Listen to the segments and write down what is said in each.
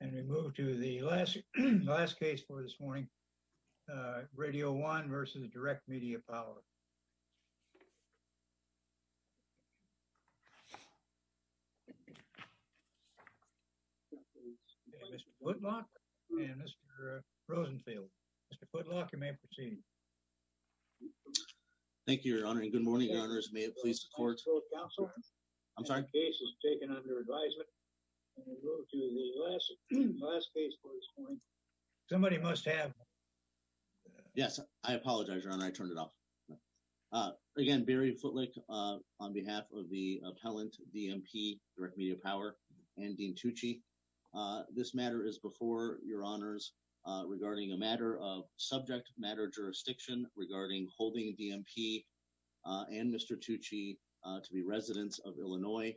And we move to the last case for this morning, Radio One v. Direct Media Power. Mr. Putlock and Mr. Rosenfield. Mr. Putlock, you may proceed. Thank you, Your Honor, and good morning, Your Honors. May it please the Court. I'm sorry. Somebody must have. Yes, I apologize, Your Honor. I turned it off. Again, Barry Footlick on behalf of the appellant, DMP, Direct Media Power, and Dean Tucci. This matter is before Your Honors regarding a matter of subject matter jurisdiction regarding holding DMP and Mr. Tucci to be residents of Illinois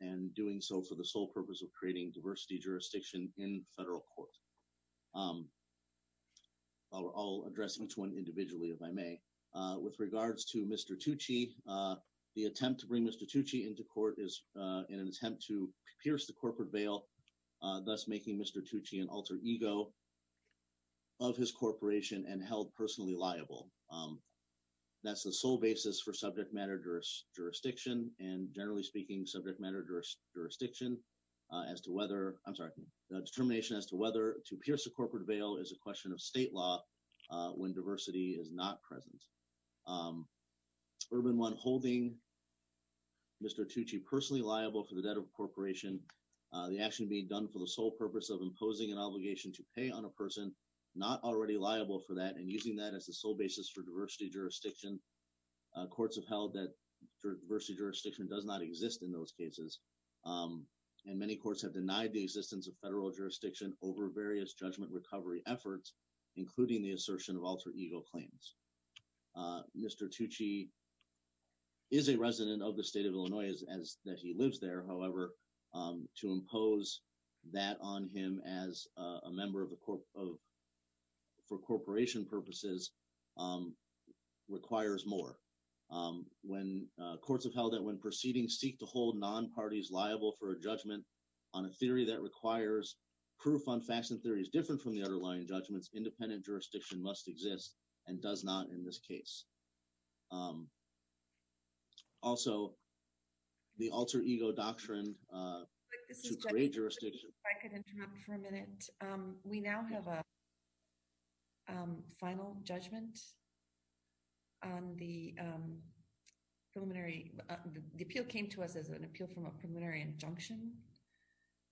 and doing so for the sole purpose of creating diversity jurisdiction in federal court. I'll address each one individually, if I may. With regards to Mr. Tucci, the attempt to bring Mr. Tucci into court is in an attempt to pierce the corporate veil, thus making Mr. Tucci an alter ego of his corporation and held personally liable. That's the sole basis for subject matter jurisdiction and, generally speaking, subject matter jurisdiction as to whether, I'm sorry, determination as to whether to pierce the corporate veil is a question of state law when diversity is not present. Urban One holding Mr. Tucci personally liable for the debt of a corporation, the action being done for the sole purpose of imposing an obligation to pay on a person not already liable for that and using that as the sole basis for diversity jurisdiction. Courts have held that diversity jurisdiction does not exist in those cases, and many courts have denied the existence of federal jurisdiction over various judgment recovery efforts, including the assertion of alter ego claims. Mr. Tucci is a resident of the state of Illinois as that he lives there. However, to impose that on him as a member for corporation purposes requires more. Courts have held that when proceedings seek to hold non-parties liable for a judgment on a theory that requires proof on facts and theories different from the underlying judgments, independent jurisdiction must exist and does not in this case. Also, the alter ego doctrine should create jurisdiction. If I could interrupt for a minute. We now have a final judgment on the preliminary. The appeal came to us as an appeal from a preliminary injunction,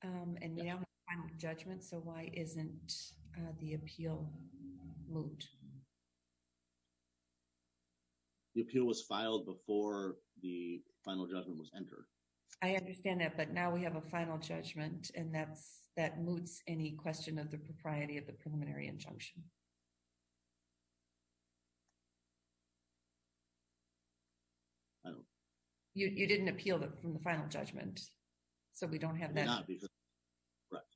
and we now have a final judgment, so why isn't the appeal moved? The appeal was filed before the final judgment was entered. I understand that, but now we have a final judgment, and that moots any question of the propriety of the preliminary injunction. You didn't appeal from the final judgment, so we don't have that. Correct.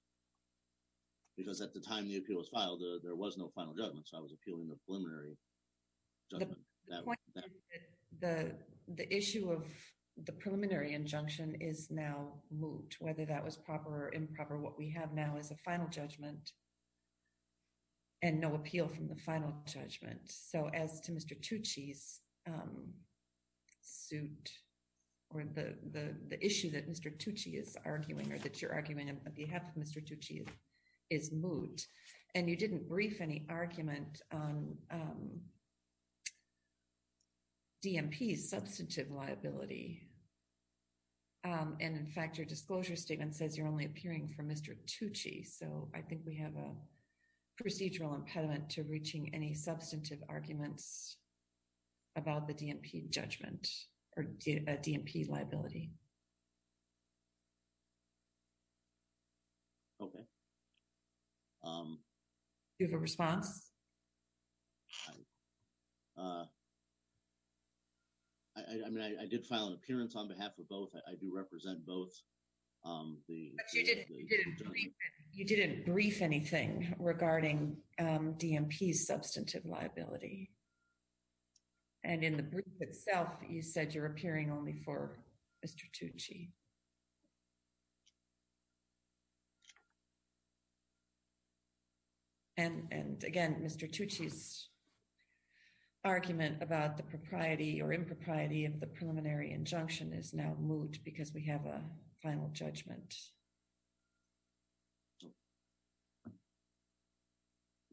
Because at the time the appeal was filed, there was no final judgment, so I was appealing the preliminary judgment. The issue of the preliminary injunction is now moot, whether that was proper or improper. What we have now is a final judgment and no appeal from the final judgment. As to Mr. Tucci's suit or the issue that Mr. Tucci is arguing or that you're arguing on behalf of Mr. Tucci is moot, and you didn't brief any argument on DMP's substantive liability. In fact, your disclosure statement says you're only appearing for Mr. Tucci, so I think we have a procedural impediment to reaching any substantive arguments about the DMP judgment or DMP liability. Okay. Do you have a response? I mean, I did file an appearance on behalf of both. I do represent both. But you didn't brief anything regarding DMP's substantive liability. And in the brief itself, you said you're appearing only for Mr. Tucci. And again, Mr. Tucci's argument about the propriety or impropriety of the preliminary injunction is now moot because we have a final judgment.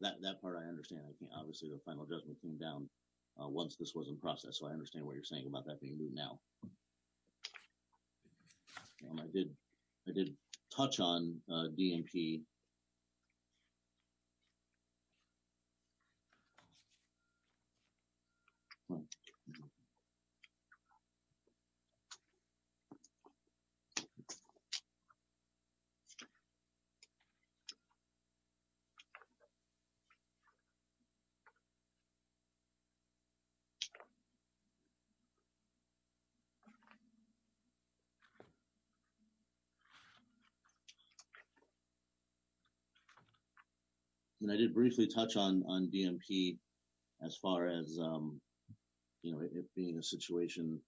That part I understand. Obviously, the final judgment came down once this was in process, so I understand what you're saying about that being moot now. I did touch on DMP. I mean, I did briefly touch on DMP as far as, you know, it being a situation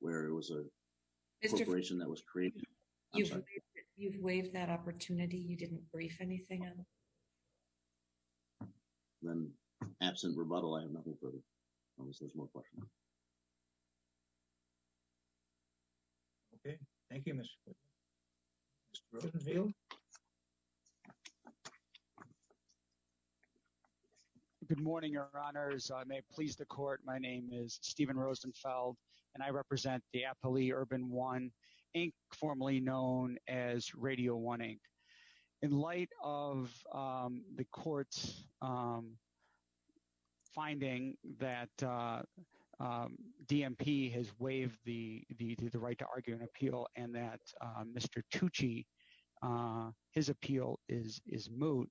where it was a corporation that was created. You've waived that opportunity. You didn't brief anything. Then, absent rebuttal, I have nothing further. Okay. Thank you. I may please the court. My name is Stephen Rosenfeld, and I represent Diapoli Urban One, formerly known as Radio One Inc. In light of the court's finding that DMP has waived the right to argue an appeal and that Mr. Tucci, his appeal is moot,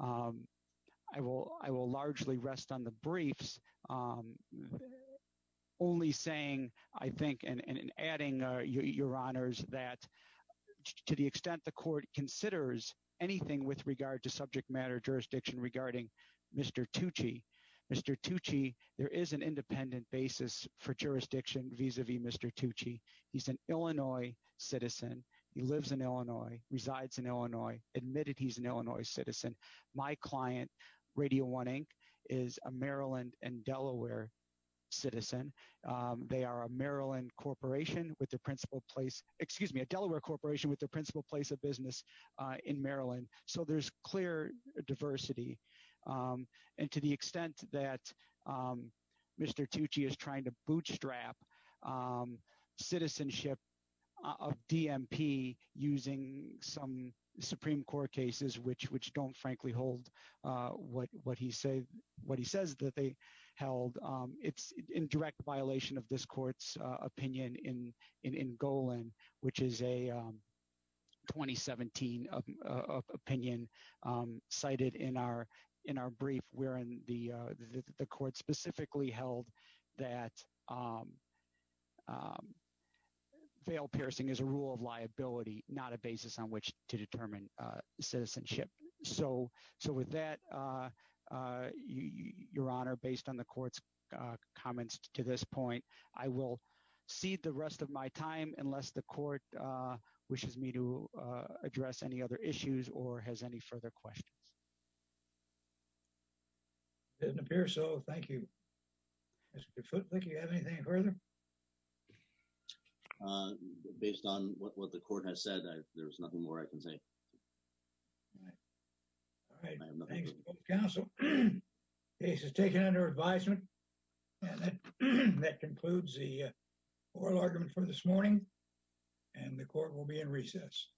I will largely rest on the briefs. Only saying, I think, and adding, Your Honors, that to the extent the court considers anything with regard to subject matter jurisdiction regarding Mr. Tucci, Mr. Tucci, there is an independent basis for jurisdiction vis-a-vis Mr. Tucci. He's an Illinois citizen. He lives in Illinois, resides in Illinois, admitted he's an Illinois citizen. My client, Radio One Inc., is a Maryland and Delaware citizen. They are a Delaware corporation with their principal place of business in Maryland, so there's clear diversity. And to the extent that Mr. Tucci is trying to bootstrap citizenship of DMP using some Supreme Court cases which don't, frankly, hold what he says that they held, it's in direct violation of this court's opinion in Golan, which is a 2017 opinion cited in our brief wherein the court specifically held that veil piercing is a rule of liability, not a basis on which to determine citizenship. So with that, Your Honor, based on the court's comments to this point, I will cede the rest of my time unless the court wishes me to address any other issues or has any further questions. It doesn't appear so. Thank you. Mr. Foote, do you have anything further? Based on what the court has said, there's nothing more I can say. All right. Thanks, counsel. The case is taken under advisement, and that concludes the oral argument for this morning, and the court will be in recess.